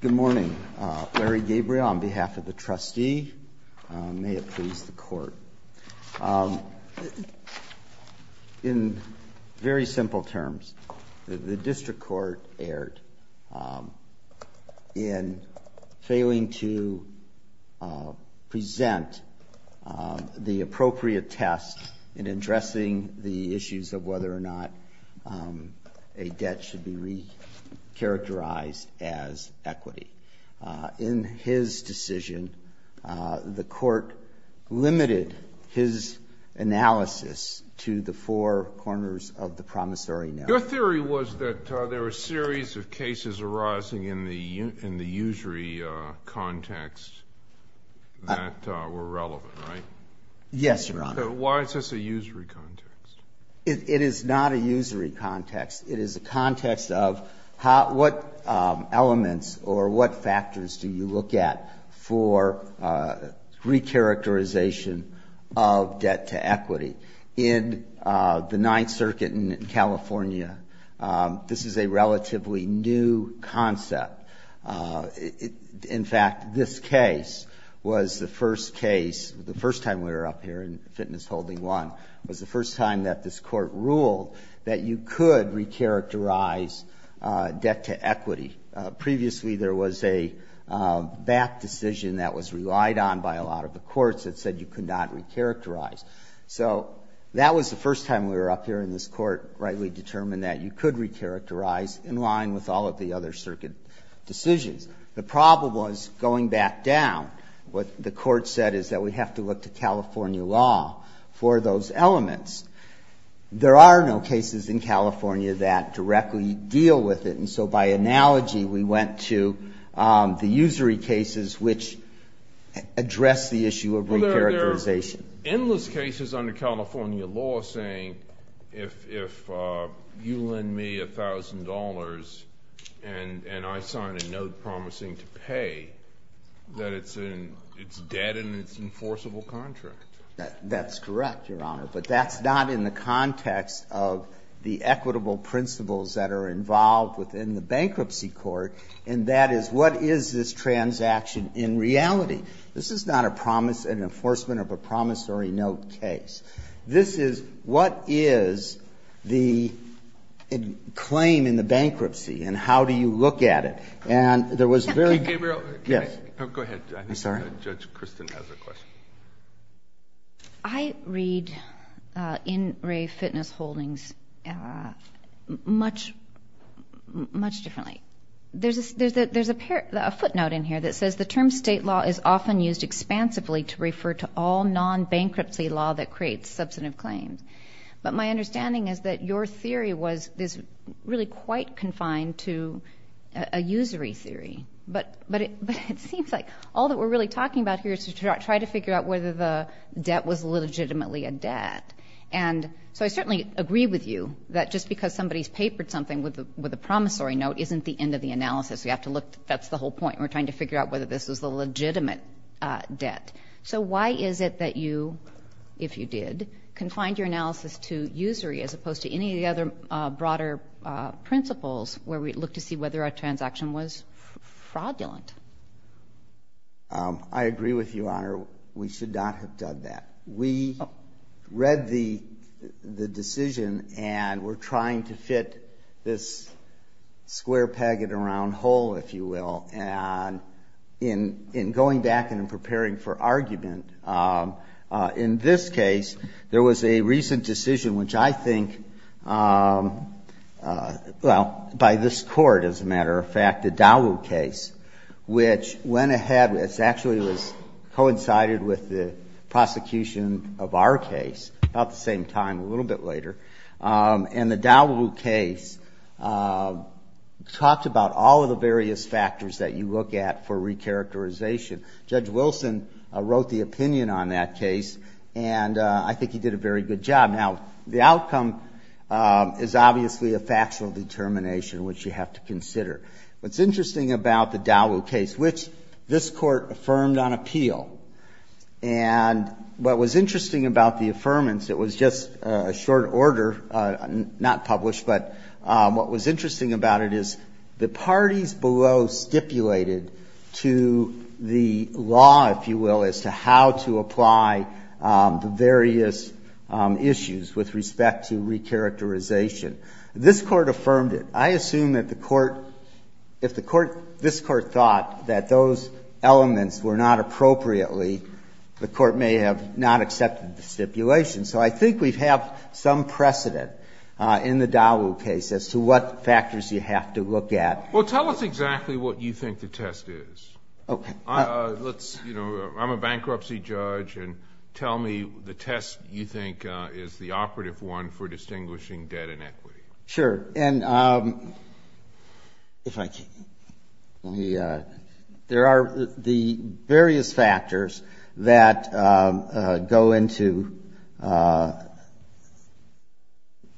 Good morning. Larry Gabriel on behalf of the trustee. May it please the court. In very simple terms, the district court erred in failing to present the appropriate test in addressing the issues of whether or not a debt should be re-characterized. In his decision, the court limited his analysis to the four corners of the promissory note. Your theory was that there were a series of cases arising in the usury context that were relevant, right? Yes, Your Honor. Why is this a usury context? It is not a usury context. It is a context of what elements or what factors do you look at for re-characterization of debt to equity. In the Ninth Circuit in California, this is a relatively new concept. In fact, this case was the first case, the first time we were up here in Fitness Holding 1, was the first time that this court ruled that you could re-characterize debt to equity. Previously, there was a back decision that was relied on by a lot of the courts that said you could not re-characterize. So that was the first time we were up here and this court rightly determined that you could re-characterize in line with all of the other circuit decisions. The problem was going back down. What the court said is that we have to look to California law for those elements. There are no cases in California that directly deal with it. And so by analogy, we went to the usury cases which address the issue of re-characterization. Endless cases under California law saying if you lend me $1,000 and I sign a note promising to pay, that it's debt and it's an enforceable contract. That's correct, Your Honor. But that's not in the context of the equitable principles that are involved within the bankruptcy court, and that is what is this transaction in reality. This is not an enforcement of a promissory note case. This is what is the claim in the bankruptcy and how do you look at it. And there was very- Go ahead. I'm sorry. Judge Kristen has a question. I read In Re Fitness Holdings much differently. There's a footnote in here that says the term state law is often used expansively to refer to all non-bankruptcy law that creates substantive claims. But my understanding is that your theory is really quite confined to a usury theory. But it seems like all that we're really talking about here is to try to figure out whether the debt was legitimately a debt. And so I certainly agree with you that just because somebody's papered something with a promissory note isn't the end of the analysis. We have to look. That's the whole point. We're trying to figure out whether this is a legitimate debt. So why is it that you, if you did, confined your analysis to usury as opposed to any of the other broader principles where we look to see whether a transaction was fraudulent? I agree with you, Your Honor. We should not have done that. We read the decision and we're trying to fit this square packet around whole, if you will. And in going back and in preparing for argument, in this case, there was a recent decision, which I think, well, by this court, as a matter of fact, the Dowell case, which went ahead. It actually was coincided with the prosecution of our case about the same time, a little bit later. And the Dowell case talked about all of the various factors that you look at for recharacterization. Judge Wilson wrote the opinion on that case, and I think he did a very good job. Now, the outcome is obviously a factual determination, which you have to consider. What's interesting about the Dowell case, which this court affirmed on appeal, and what was interesting about the affirmance, it was just a short order, not published, but what was interesting about it is the parties below stipulated to the law, if you will, as to how to apply the various issues with respect to recharacterization. This court affirmed it. I assume that the court, if this court thought that those elements were not appropriately, the court may have not accepted the stipulation. So I think we have some precedent in the Dowell case as to what factors you have to look at. Well, tell us exactly what you think the test is. Okay. I'm a bankruptcy judge, and tell me the test you think is the operative one for distinguishing debt and equity. Sure. There are the various factors that go into –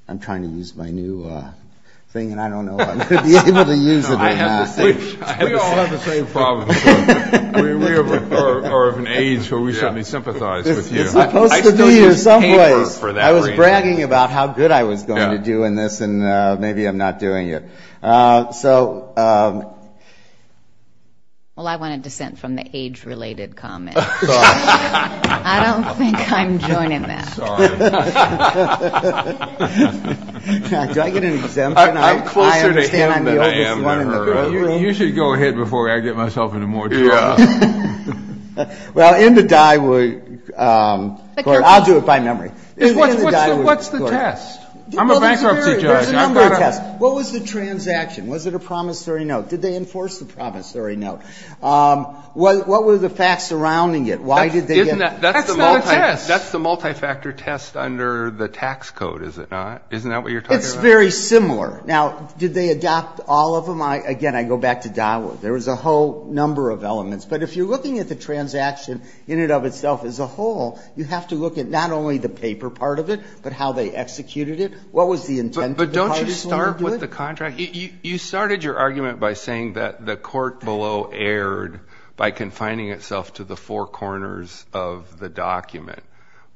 I'm trying to use my new thing, and I don't know if I'm going to be able to use it. We all have the same problems. We are of an age where we should be sympathized with you. You're supposed to be here some place. I was bragging about how good I was going to do in this, and maybe I'm not doing it. So – Well, I want to dissent from the age-related comment. I don't think I'm joining that. Sorry. Do I get an exemption? I'm closer to him than I am to her. You should go ahead before I get myself into more trouble. Yeah. Well, in the Dyewood – I'll do it by memory. What's the test? I'm a bankruptcy judge. There's a number of tests. What was the transaction? Was it a promissory note? Did they enforce the promissory note? What were the facts surrounding it? Why did they get – That's not a test. That's the multi-factor test under the tax code, is it not? Isn't that what you're talking about? It's very similar. Now, did they adopt all of them? Again, I go back to Dyewood. There was a whole number of elements. But if you're looking at the transaction in and of itself as a whole, you have to look at not only the paper part of it, but how they executed it, what was the intent of the participant to do it. But don't you start with the contract? You started your argument by saying that the court below erred by confining itself to the four corners of the document.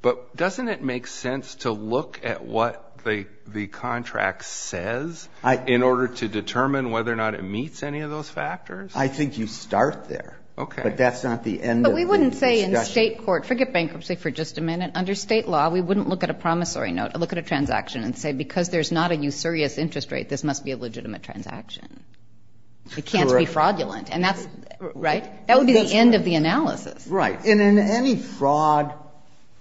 But doesn't it make sense to look at what the contract says in order to determine whether or not it meets any of those factors? I think you start there. Okay. But that's not the end of the discussion. But we wouldn't say in state court – forget bankruptcy for just a minute. Under state law, we wouldn't look at a promissory note, look at a transaction and say, because there's not a usurious interest rate, this must be a legitimate transaction. It can't be fraudulent. Right? That would be the end of the analysis. Right. And in any fraud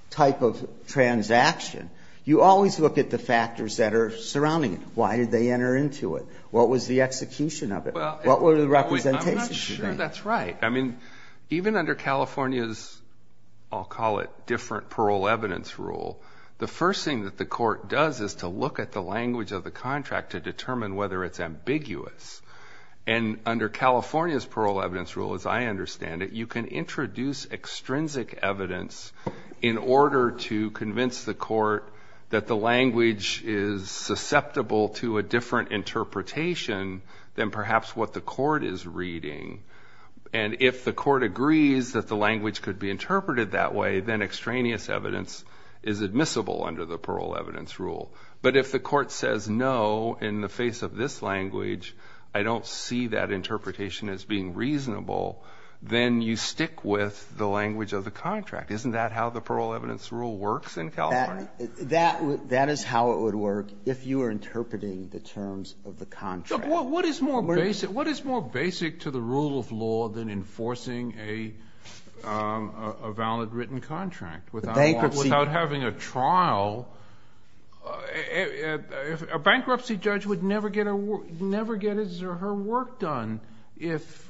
type of transaction, you always look at the factors that are surrounding it. Why did they enter into it? What was the execution of it? What were the representations? I'm not sure that's right. I mean, even under California's, I'll call it, different parole evidence rule, the first thing that the court does is to look at the language of the contract to determine whether it's ambiguous. And under California's parole evidence rule, as I understand it, you can introduce extrinsic evidence in order to convince the court that the language is susceptible to a different interpretation than perhaps what the court is reading. And if the court agrees that the language could be interpreted that way, then extraneous evidence is admissible under the parole evidence rule. But if the court says, no, in the face of this language, I don't see that interpretation as being reasonable, then you stick with the language of the contract. Isn't that how the parole evidence rule works in California? That is how it would work if you were interpreting the terms of the contract. What is more basic to the rule of law than enforcing a valid written contract? Without having a trial. A bankruptcy judge would never get his or her work done if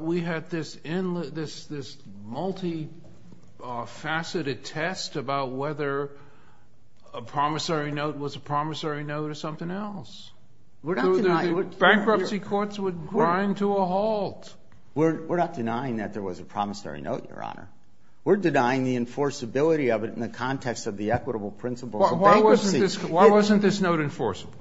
we had this multi-faceted test about whether a promissory note was a promissory note or something else. Bankruptcy courts would grind to a halt. We're not denying that there was a promissory note, Your Honor. We're denying the enforceability of it in the context of the equitable principles of bankruptcy. Why wasn't this note enforceable?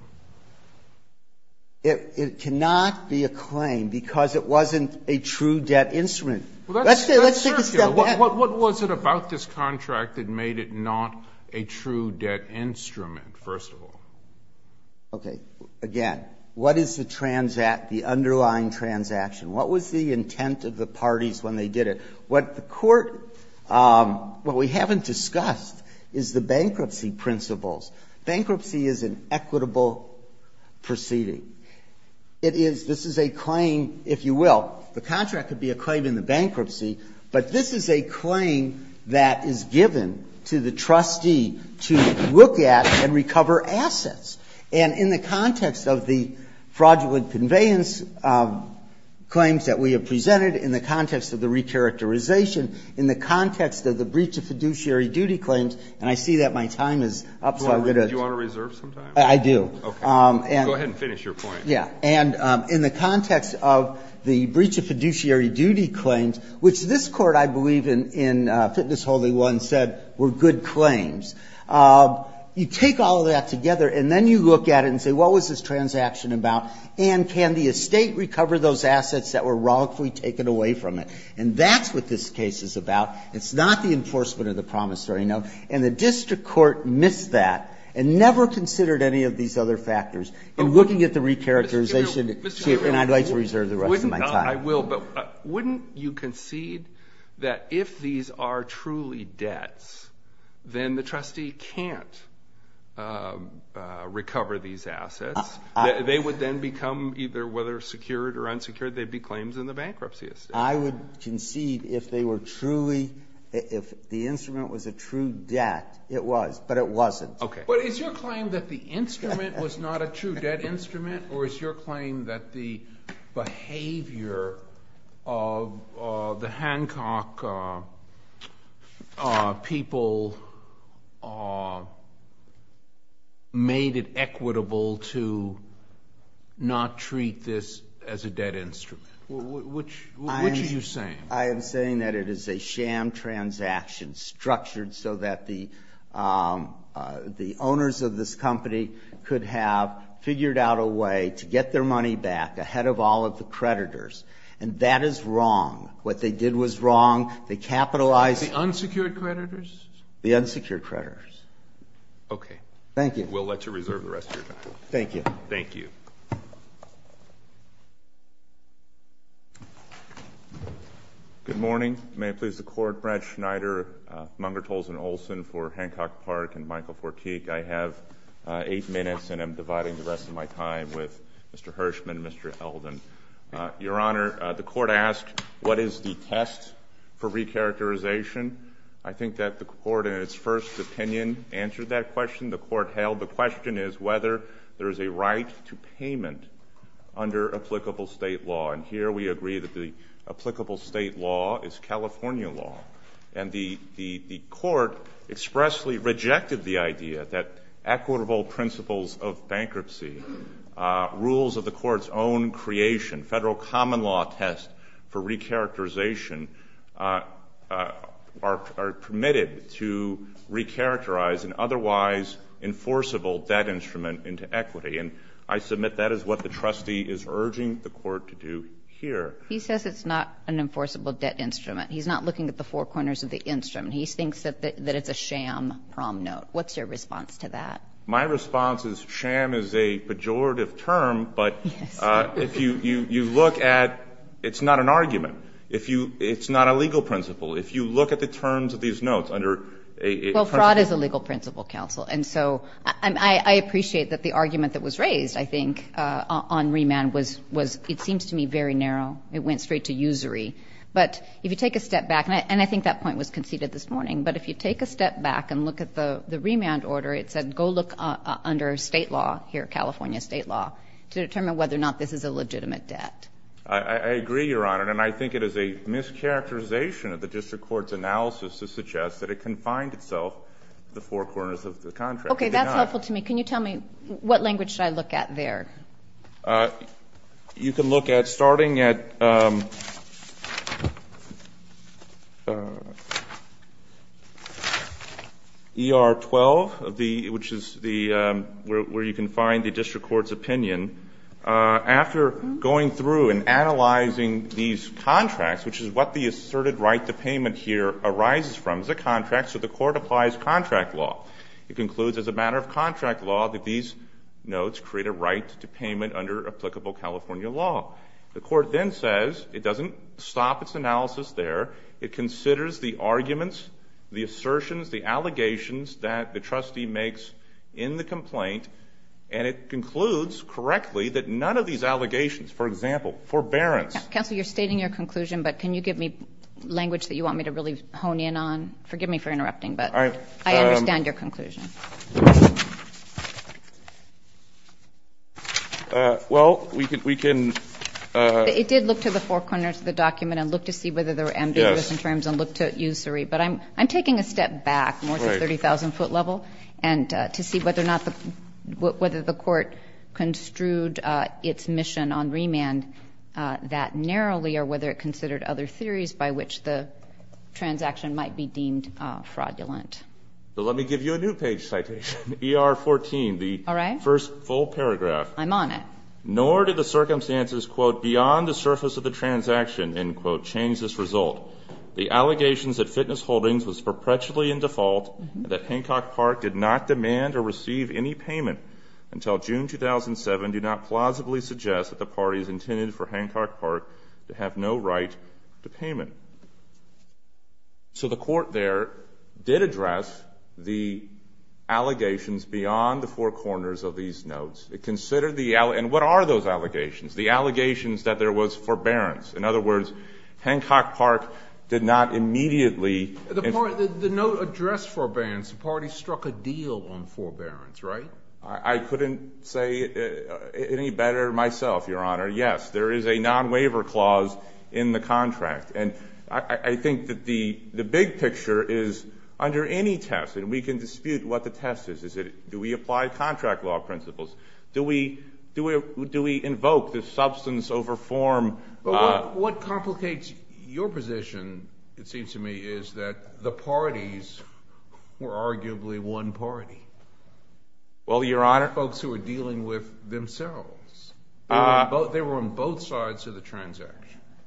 It cannot be a claim because it wasn't a true debt instrument. Let's take a step back. What was it about this contract that made it not a true debt instrument, first of all? Okay. Again, what is the underlying transaction? What was the intent of the parties when they did it? What the court, what we haven't discussed is the bankruptcy principles. Bankruptcy is an equitable proceeding. It is, this is a claim, if you will, the contract could be a claim in the bankruptcy, but this is a claim that is given to the trustee to look at and recover assets. And in the context of the fraudulent conveyance claims that we have presented, in the context of the recharacterization, in the context of the breach of fiduciary duty claims, and I see that my time is up, so I'm going to. Do you want to reserve some time? I do. Okay. Go ahead and finish your point. Yeah. And in the context of the breach of fiduciary duty claims, which this Court, I believe, in Fitness-Holy One said were good claims, you take all of that together and then you look at it and say, what was this transaction about, and can the estate recover those assets that were wrongfully taken away from it? And that's what this case is about. It's not the enforcement of the promise, sorry. And the district court missed that and never considered any of these other factors. In looking at the recharacterization, and I'd like to reserve the rest of my time. I will, but wouldn't you concede that if these are truly debts, then the trustee can't recover these assets? They would then become, either whether secured or unsecured, they'd be claims in the bankruptcy estate. I would concede if they were truly, if the instrument was a true debt, it was, but it wasn't. Okay. But is your claim that the instrument was not a true debt instrument, or is your claim that the behavior of the Hancock people made it equitable to not treat this as a debt instrument? Which are you saying? I am saying that it is a sham transaction structured so that the owners of this company could have figured out a way to get their money back ahead of all of the creditors. And that is wrong. What they did was wrong. They capitalized. The unsecured creditors? The unsecured creditors. Okay. Thank you. We'll let you reserve the rest of your time. Thank you. Thank you. Good morning. May it please the Court. Brad Schneider, Mungertols and Olson for Hancock Park and Michael Portique. I have eight minutes, and I'm dividing the rest of my time with Mr. Hirshman and Mr. Eldon. Your Honor, the Court asked what is the test for recharacterization. I think that the Court, in its first opinion, answered that question. The Court held the question is whether there is a right to payment under applicable State law. And here we agree that the applicable State law is California law. And the Court expressly rejected the idea that equitable principles of bankruptcy, rules of the Court's own creation, Federal common law test for recharacterization are permitted to recharacterize an otherwise enforceable debt instrument into equity. And I submit that is what the trustee is urging the Court to do here. He says it's not an enforceable debt instrument. He's not looking at the four corners of the instrument. He thinks that it's a sham prom note. What's your response to that? My response is sham is a pejorative term, but if you look at it's not an argument. It's not a legal principle. If you look at the terms of these notes under a principle. Well, fraud is a legal principle, Counsel. And so I appreciate that the argument that was raised, I think, on remand was, it seems to me, very narrow. It went straight to usury. But if you take a step back, and I think that point was conceded this morning, but if you take a step back and look at the remand order, it said go look under State law here, California State law, to determine whether or not this is a legitimate debt. I agree, Your Honor. And I think it is a mischaracterization of the district court's analysis to suggest that it confines itself to the four corners of the contract. Okay. That's helpful to me. Can you tell me what language should I look at there? You can look at, starting at ER 12, which is where you can find the district court's opinion. After going through and analyzing these contracts, which is what the asserted right to payment here arises from, is a contract, so the court applies contract law. It concludes as a matter of contract law that these notes create a right to payment under applicable California law. The court then says it doesn't stop its analysis there. It considers the arguments, the assertions, the allegations that the trustee makes in the complaint, and it concludes correctly that none of these allegations, for example, forbearance. Counsel, you're stating your conclusion, but can you give me language that you want me to really hone in on? Forgive me for interrupting, but I understand your concerns. I understand your conclusion. Well, we can ‑‑ It did look to the four corners of the document and look to see whether there were ambiguous in terms and look to usury. But I'm taking a step back more to the 30,000-foot level to see whether or not the court construed its mission on remand that narrowly or whether it considered other theories by which the transaction might be deemed fraudulent. So let me give you a new page citation, ER 14, the first full paragraph. I'm on it. Nor did the circumstances, quote, beyond the surface of the transaction, end quote, change this result. The allegations at Fitness Holdings was perpetually in default and that Hancock Park did not demand or receive any payment until June 2007 do not plausibly suggest that the parties intended for Hancock Park have no right to payment. So the court there did address the allegations beyond the four corners of these notes. It considered the ‑‑ and what are those allegations? The allegations that there was forbearance. In other words, Hancock Park did not immediately ‑‑ The note addressed forbearance. The parties struck a deal on forbearance, right? I couldn't say any better myself, Your Honor. Yes, there is a non‑waiver clause in the contract. And I think that the big picture is under any test, and we can dispute what the test is, is that do we apply contract law principles? Do we invoke the substance over form? But what complicates your position, it seems to me, is that the parties were arguably one party. Well, Your Honor. Folks who were dealing with themselves. They were on both sides of the transaction.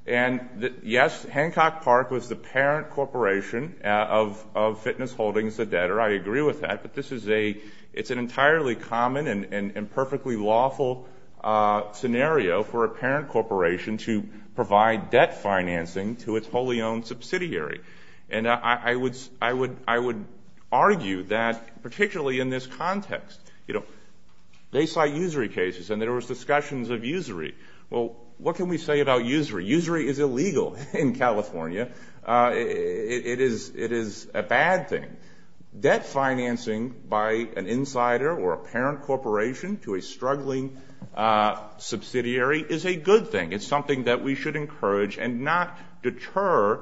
And yes, Hancock Park was the parent corporation of Fitness Holdings, the debtor. I agree with that. But this is a ‑‑ it's an entirely common and perfectly lawful scenario for a parent corporation to provide debt financing to its wholly owned subsidiary. And I would argue that particularly in this context, you know, they cite usury cases and there was discussions of usury. Well, what can we say about usury? Usury is illegal in California. It is a bad thing. Debt financing by an insider or a parent corporation to a struggling subsidiary is a good thing. It's something that we should encourage and not deter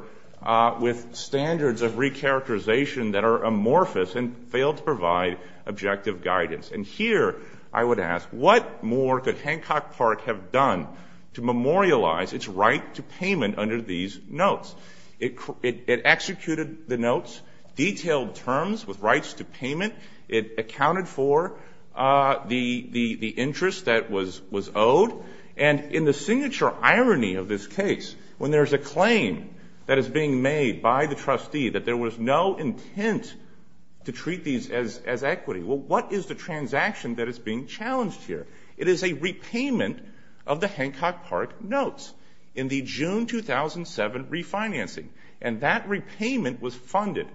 with standards of recharacterization that are amorphous and fail to provide objective guidance. And here I would ask, what more could Hancock Park have done to memorialize its right to payment under these notes? It executed the notes, detailed terms with rights to payment. It accounted for the interest that was owed. And in the signature irony of this case, when there is a claim that is being made by the trustee that there was no intent to treat these as equity, well, what is the transaction that is being challenged here? It is a repayment of the Hancock Park notes in the June 2007 refinancing. And that repayment was funded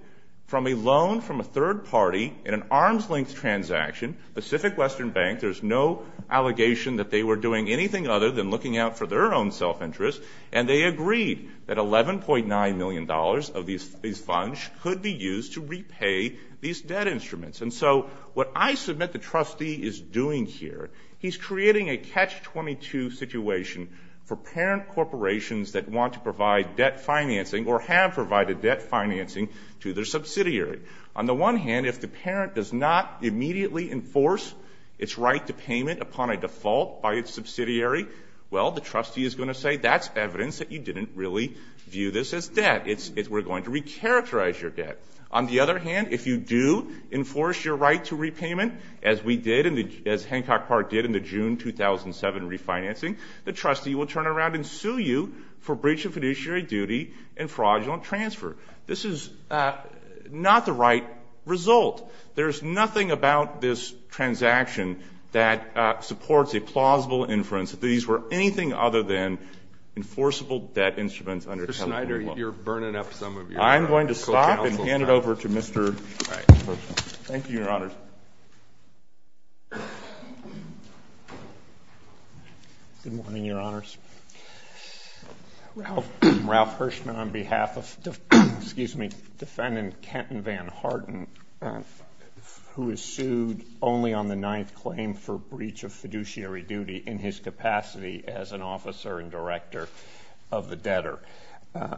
from a loan from a third party in an arm's-length transaction, Pacific Western Bank. There's no allegation that they were doing anything other than looking out for their own self-interest, and they agreed that $11.9 million of these funds could be used to repay these debt instruments. And so what I submit the trustee is doing here, he's creating a catch-22 situation for parent corporations that want to provide debt financing or have provided debt financing to their subsidiary. On the one hand, if the parent does not immediately enforce its right to payment upon a default by its subsidiary, well, the trustee is going to say, that's evidence that you didn't really view this as debt. We're going to recharacterize your debt. On the other hand, if you do enforce your right to repayment, as we did, as Hancock Park did in the June 2007 refinancing, the trustee will turn around and sue you for breach of fiduciary duty and fraudulent transfer. This is not the right result. There's nothing about this transaction that supports a plausible inference under Kevin Mulholland. I'm going to stop and hand it over to Mr. Hershman. Thank you, Your Honors. Good morning, Your Honors. Ralph Hershman on behalf of Defendant Kenton Van Harden, who is sued only on the ninth claim for breach of fiduciary duty in his capacity as an officer and director of the debtor.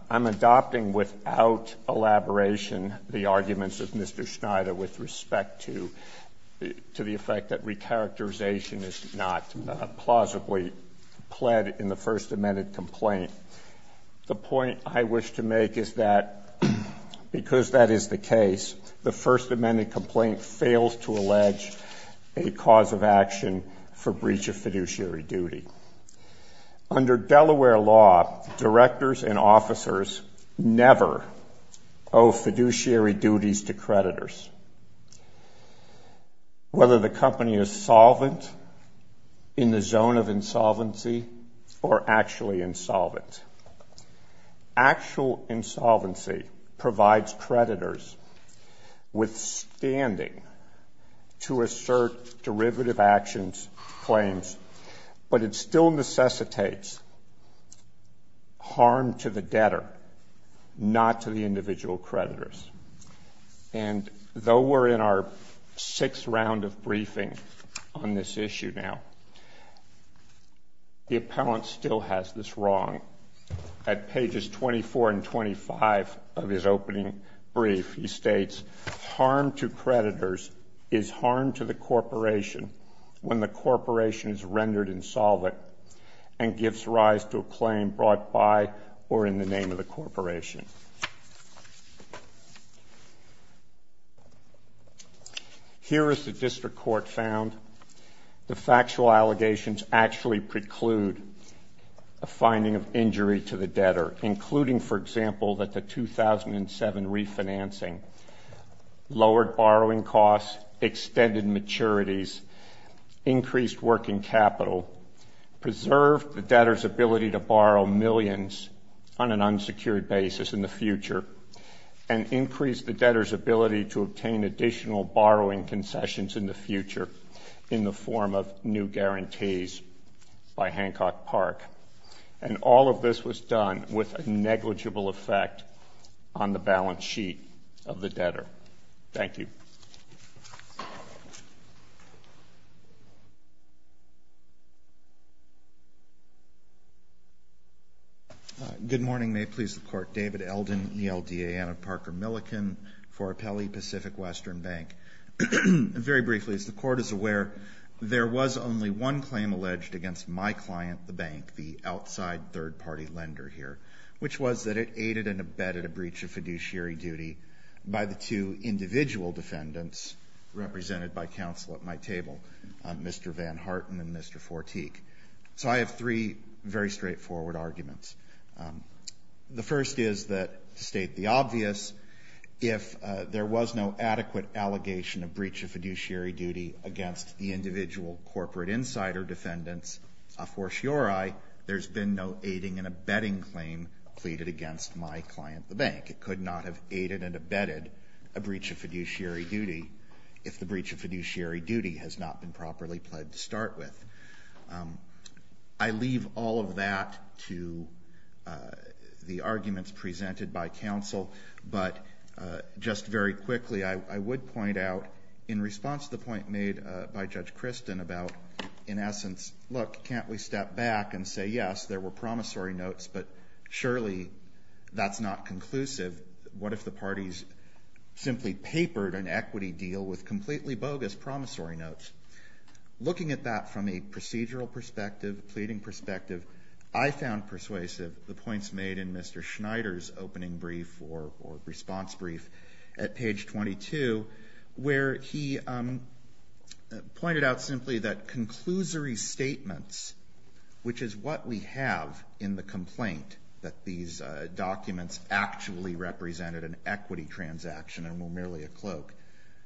I'm adopting without elaboration the arguments of Mr. Schneider with respect to the effect that recharacterization is not plausibly pled in the First Amendment complaint. The point I wish to make is that because that is the case, the First Amendment complaint fails to allege a cause of action for breach of fiduciary duty. Under Delaware law, directors and officers never owe fiduciary duties to creditors, whether the company is solvent in the zone of insolvency or actually insolvent. Actual insolvency provides creditors with standing to assert derivative actions, claims, but it still necessitates harm to the debtor, not to the individual creditors. And though we're in our sixth round of briefing on this issue now, the appellant still has this wrong. At pages 24 and 25 of his opening brief, he states, harm to creditors is harm to the corporation when the corporation is rendered insolvent and gives rise to a claim brought by or in the name of the corporation. Here is the district court found. The factual allegations actually preclude a finding of injury to the debtor, including, for example, that the 2007 refinancing lowered borrowing costs, extended maturities, increased working capital, preserved the debtor's ability to borrow millions on an unsecured basis in the future, and increased the debtor's ability to obtain additional borrowing concessions in the future in the form of new guarantees by Hancock Park. And all of this was done with a negligible effect on the balance sheet of the debtor. Thank you. Good morning. May it please the Court. David Eldon, ELDA, and I'm Parker Milliken for Appellee Pacific Western Bank. Very briefly, as the Court is aware, there was only one claim alleged against my client, the bank, the outside third-party lender here, which was that it aided and abetted a breach of fiduciary duty by the two individual defendants represented by counsel at my table, Mr. Van Harten and Mr. Fortique. So I have three very straightforward arguments. The first is that, to state the obvious, if there was no adequate allegation of breach of fiduciary duty against the individual corporate insider defendants, a fortiori, there's been no aiding and abetting claim pleaded against my client, the bank. It could not have aided and abetted a breach of fiduciary duty if the breach of fiduciary duty has not been properly pledged to start with. I leave all of that to the arguments presented by counsel, but just very quickly, I would point out, in response to the point made by Judge Kristen about, in essence, look, can't we step back and say, yes, there were promissory notes, but surely that's not conclusive. What if the parties simply papered an equity deal with completely bogus promissory notes? Looking at that from a procedural perspective, a pleading perspective, I found persuasive the points made in Mr. Schneider's opening brief or response brief at page 22, where he pointed out simply that conclusory statements, which is what we have in the complaint, that these documents actually represented an equity transaction and were merely a cloak.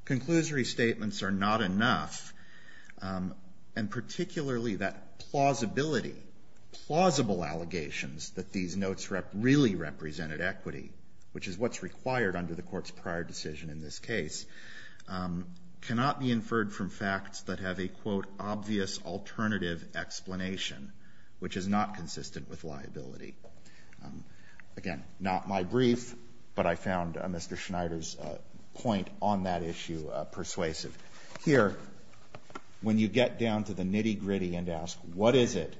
Conclusory statements are not enough, and particularly that plausibility, plausible allegations that these notes really represented equity, which is what's required under the Court's prior decision in this case, cannot be inferred from facts that have a, quote, obvious alternative explanation, which is not consistent with liability. Again, not my brief, but I found Mr. Schneider's point on that issue persuasive. Here, when you get down to the nitty-gritty and ask, what is it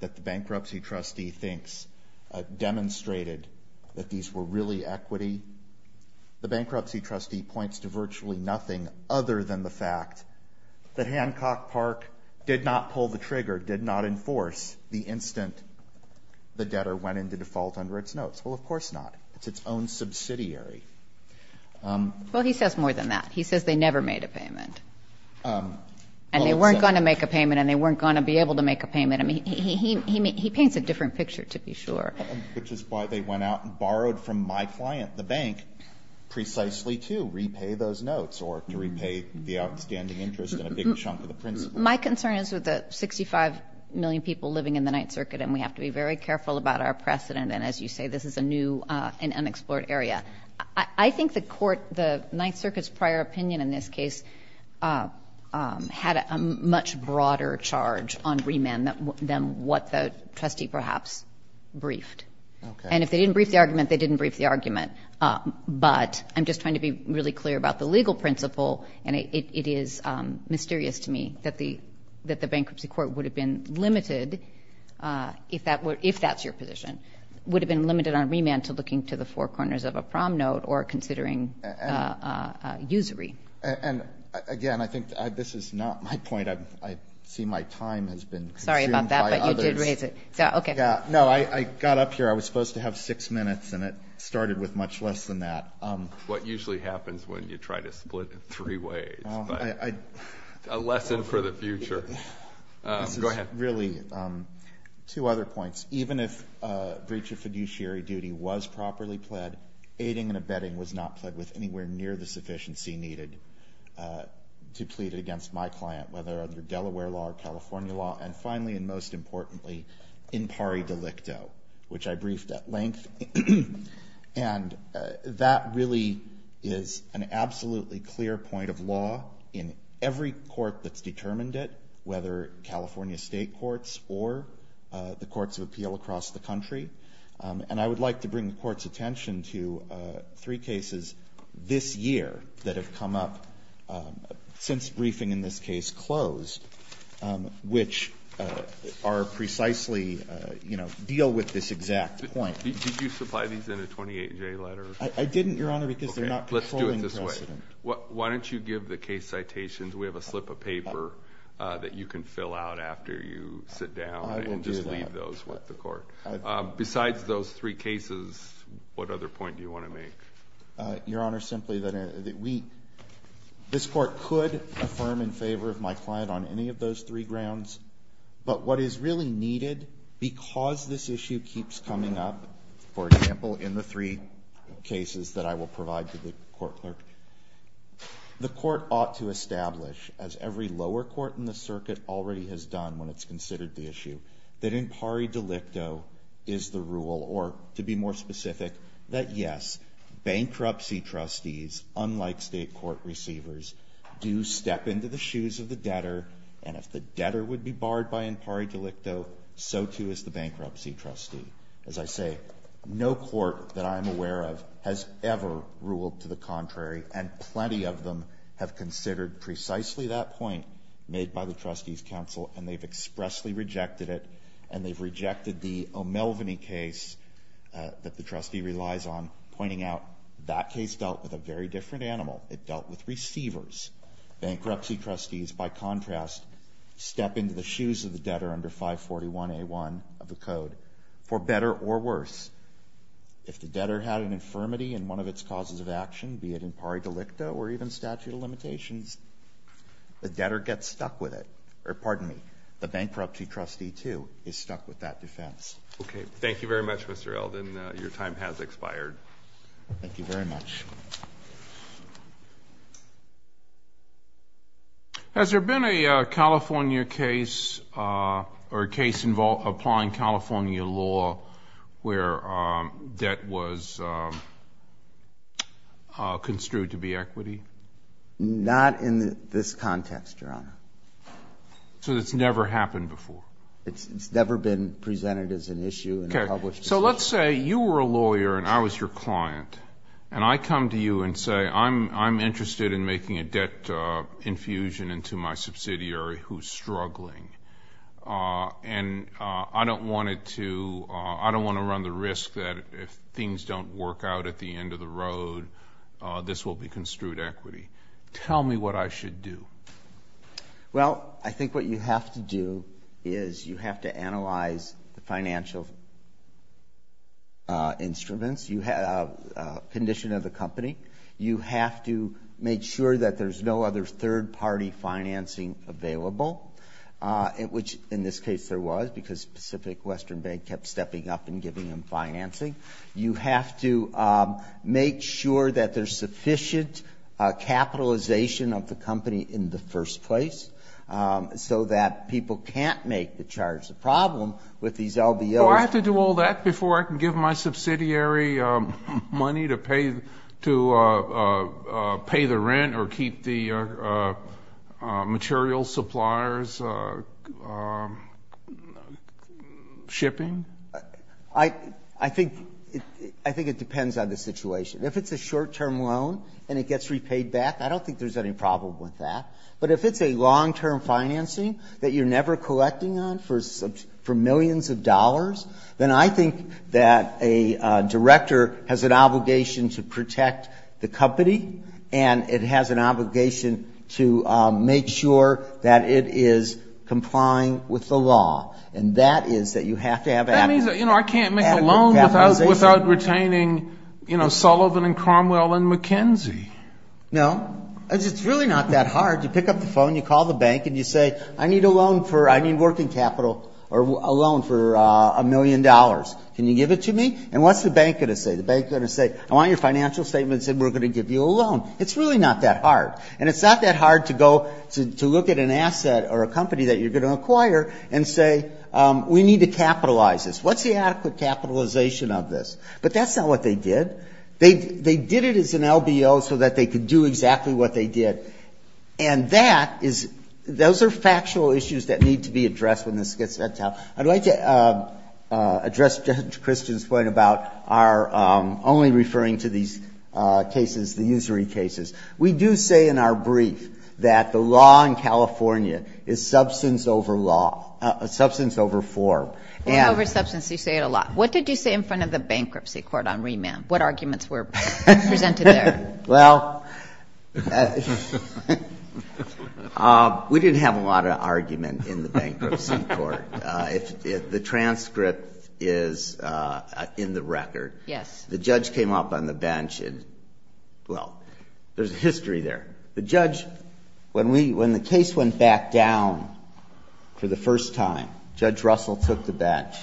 that the bankruptcy trustee thinks demonstrated that these were really equity, the bankruptcy trustee points to virtually nothing other than the fact that Hancock Park did not pull the trigger, did not enforce the instant the debtor went into default under its notes. Well, of course not. It's its own subsidiary. Well, he says more than that. He says they never made a payment. And they weren't going to make a payment, and they weren't going to be able to make a payment. I mean, he paints a different picture, to be sure. Which is why they went out and borrowed from my client, the bank, precisely to repay those notes or to repay the outstanding interest and a big chunk of the principal. My concern is with the 65 million people living in the Ninth Circuit, and we have to be very careful about our precedent. And as you say, this is a new and unexplored area. I think the Ninth Circuit's prior opinion in this case had a much broader charge on remand than what the trustee perhaps briefed. And if they didn't brief the argument, they didn't brief the argument. But I'm just trying to be really clear about the legal principle, and it is mysterious to me that the bankruptcy court would have been limited, if that's your position, would have been limited on remand to looking to the four corners of a prom note or considering usury. And again, I think this is not my point. I see my time has been consumed by others. Sorry about that, but you did raise it. No, I got up here. I was supposed to have six minutes, and it started with much less than that. What usually happens when you try to split in three ways, but a lesson for the future. Go ahead. Really, two other points. Even if a breach of fiduciary duty was properly pled, aiding and abetting was not pled with anywhere near the sufficiency needed to plead against my client, whether under Delaware law or California law. And finally, and most importantly, in pari delicto, which I briefed at length. And that really is an absolutely clear point of law in every court that's determined it, whether California state courts or the courts of appeal across the country. And I would like to bring the Court's attention to three cases this year that have come up, since briefing in this case closed, which are precisely, you know, deal with this exact point. Did you supply these in a 28-J letter? I didn't, Your Honor, because they're not controlling precedent. Let's do it this way. Why don't you give the case citations? We have a slip of paper that you can fill out after you sit down and just leave those with the Court. Besides those three cases, what other point do you want to make? Your Honor, simply that this Court could affirm in favor of my client on any of those three grounds. But what is really needed, because this issue keeps coming up, for example, in the three cases that I will provide to the Court Clerk, the Court ought to establish, as every lower court in the circuit already has done when it's considered the issue, that in pari delicto is the rule, or to be more specific, that yes, bankruptcy trustees, unlike state court receivers, do step into the shoes of the debtor. And if the debtor would be barred by in pari delicto, so too is the bankruptcy trustee. As I say, no court that I'm aware of has ever ruled to the contrary, and plenty of them have considered precisely that point made by the Trustees Council, and they've expressly rejected it, and they've rejected the O'Melveny case that the trustee relies on, pointing out that case dealt with a very different animal. It dealt with receivers. Bankruptcy trustees, by contrast, step into the shoes of the debtor under 541A1 of the Code for better or worse. If the debtor had an infirmity in one of its causes of action, be it in pari delicto or even statute of limitations, the debtor gets stuck with it. Or pardon me, the bankruptcy trustee, too, is stuck with that defense. Okay. Thank you very much, Mr. Eldin. Your time has expired. Thank you very much. Thank you. Has there been a California case or a case applying California law where debt was construed to be equity? Not in this context, Your Honor. So it's never happened before? It's never been presented as an issue in a published decision. So let's say you were a lawyer and I was your client, and I come to you and say I'm interested in making a debt infusion into my subsidiary who's struggling, and I don't want to run the risk that if things don't work out at the end of the road, this will be construed equity. Tell me what I should do. Well, I think what you have to do is you have to analyze the financial instruments, condition of the company. You have to make sure that there's no other third-party financing available, which in this case there was because Pacific Western Bank kept stepping up and giving them financing. You have to make sure that there's sufficient capitalization of the company in the first place so that people can't make the charge the problem with these LBOs. Do I have to do all that before I can give my subsidiary money to pay the rent or keep the material suppliers' shipping? I think it depends on the situation. If it's a short-term loan and it gets repaid back, I don't think there's any problem with that. But if it's a long-term financing that you're never collecting on for millions of dollars, then I think that a director has an obligation to protect the company, and it has an obligation to make sure that it is complying with the law. And that is that you have to have adequate capitalization. That means, you know, I can't make a loan without retaining, you know, Sullivan and Cromwell and McKenzie. No. It's really not that hard. You pick up the phone, you call the bank, and you say, I need a loan for a million dollars. Can you give it to me? And what's the bank going to say? The bank is going to say, I want your financial statements, and we're going to give you a loan. It's really not that hard. And it's not that hard to go to look at an asset or a company that you're going to acquire and say, we need to capitalize this. What's the adequate capitalization of this? But that's not what they did. They did it as an LBO so that they could do exactly what they did. And that is, those are factual issues that need to be addressed when this gets set up. I'd like to address Judge Christian's point about our only referring to these cases, the usury cases. We do say in our brief that the law in California is substance over law, substance over form. It's over substance. You say it a lot. What did you say in front of the bankruptcy court on remand? What arguments were presented there? Well, we didn't have a lot of argument in the bankruptcy court. The transcript is in the record. Yes. The judge came up on the bench and, well, there's a history there. The judge, when the case went back down for the first time, Judge Russell took the bench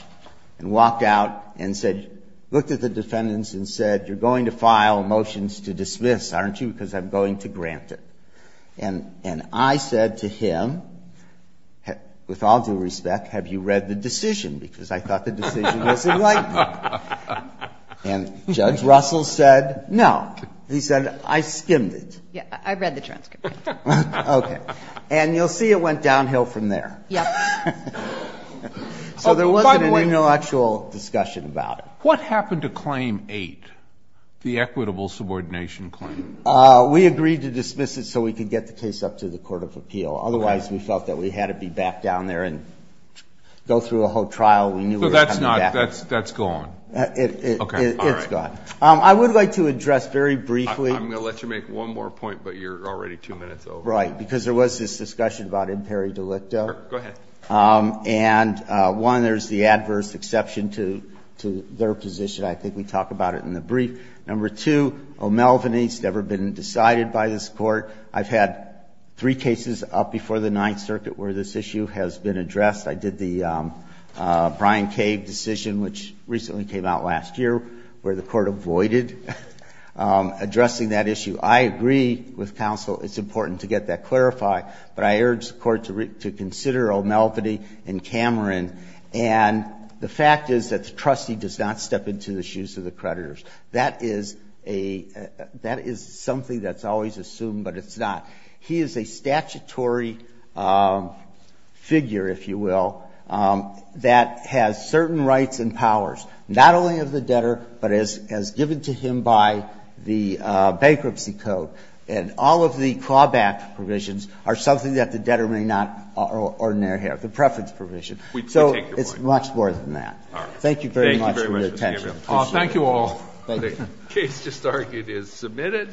and walked out and said, looked at the defendants and said, you're going to file motions to dismiss, aren't you? Because I'm going to grant it. And I said to him, with all due respect, have you read the decision? Because I thought the decision was enlightening. And Judge Russell said, no. He said, I skimmed it. Yes. I read the transcript. Okay. And you'll see it went downhill from there. Yes. So there wasn't any actual discussion about it. What happened to Claim 8, the equitable subordination claim? We agreed to dismiss it so we could get the case up to the court of appeal. Otherwise, we felt that we had to be back down there and go through a whole trial. We knew we were coming back. So that's gone. It's gone. I would like to address very briefly. I'm going to let you make one more point, but you're already two minutes over. Right. Because there was this discussion about imperi delicto. Go ahead. And, one, there's the adverse exception to their position. I think we talk about it in the brief. Number two, O'Melveny's never been decided by this court. I've had three cases up before the Ninth Circuit where this issue has been addressed. I did the Brian Cave decision, which recently came out last year, where the court avoided addressing that issue. I agree with counsel it's important to get that clarified. But I urge the Court to consider O'Melveny and Cameron. And the fact is that the trustee does not step into the shoes of the creditors. That is a – that is something that's always assumed, but it's not. He is a statutory figure, if you will, that has certain rights and powers, not only of the debtor, but as given to him by the Bankruptcy Code. And all of the clawback provisions are something that the debtor may not ordinarily have, the preference provision. So it's much more than that. Thank you very much for your attention. Thank you all. The case to start is submitted.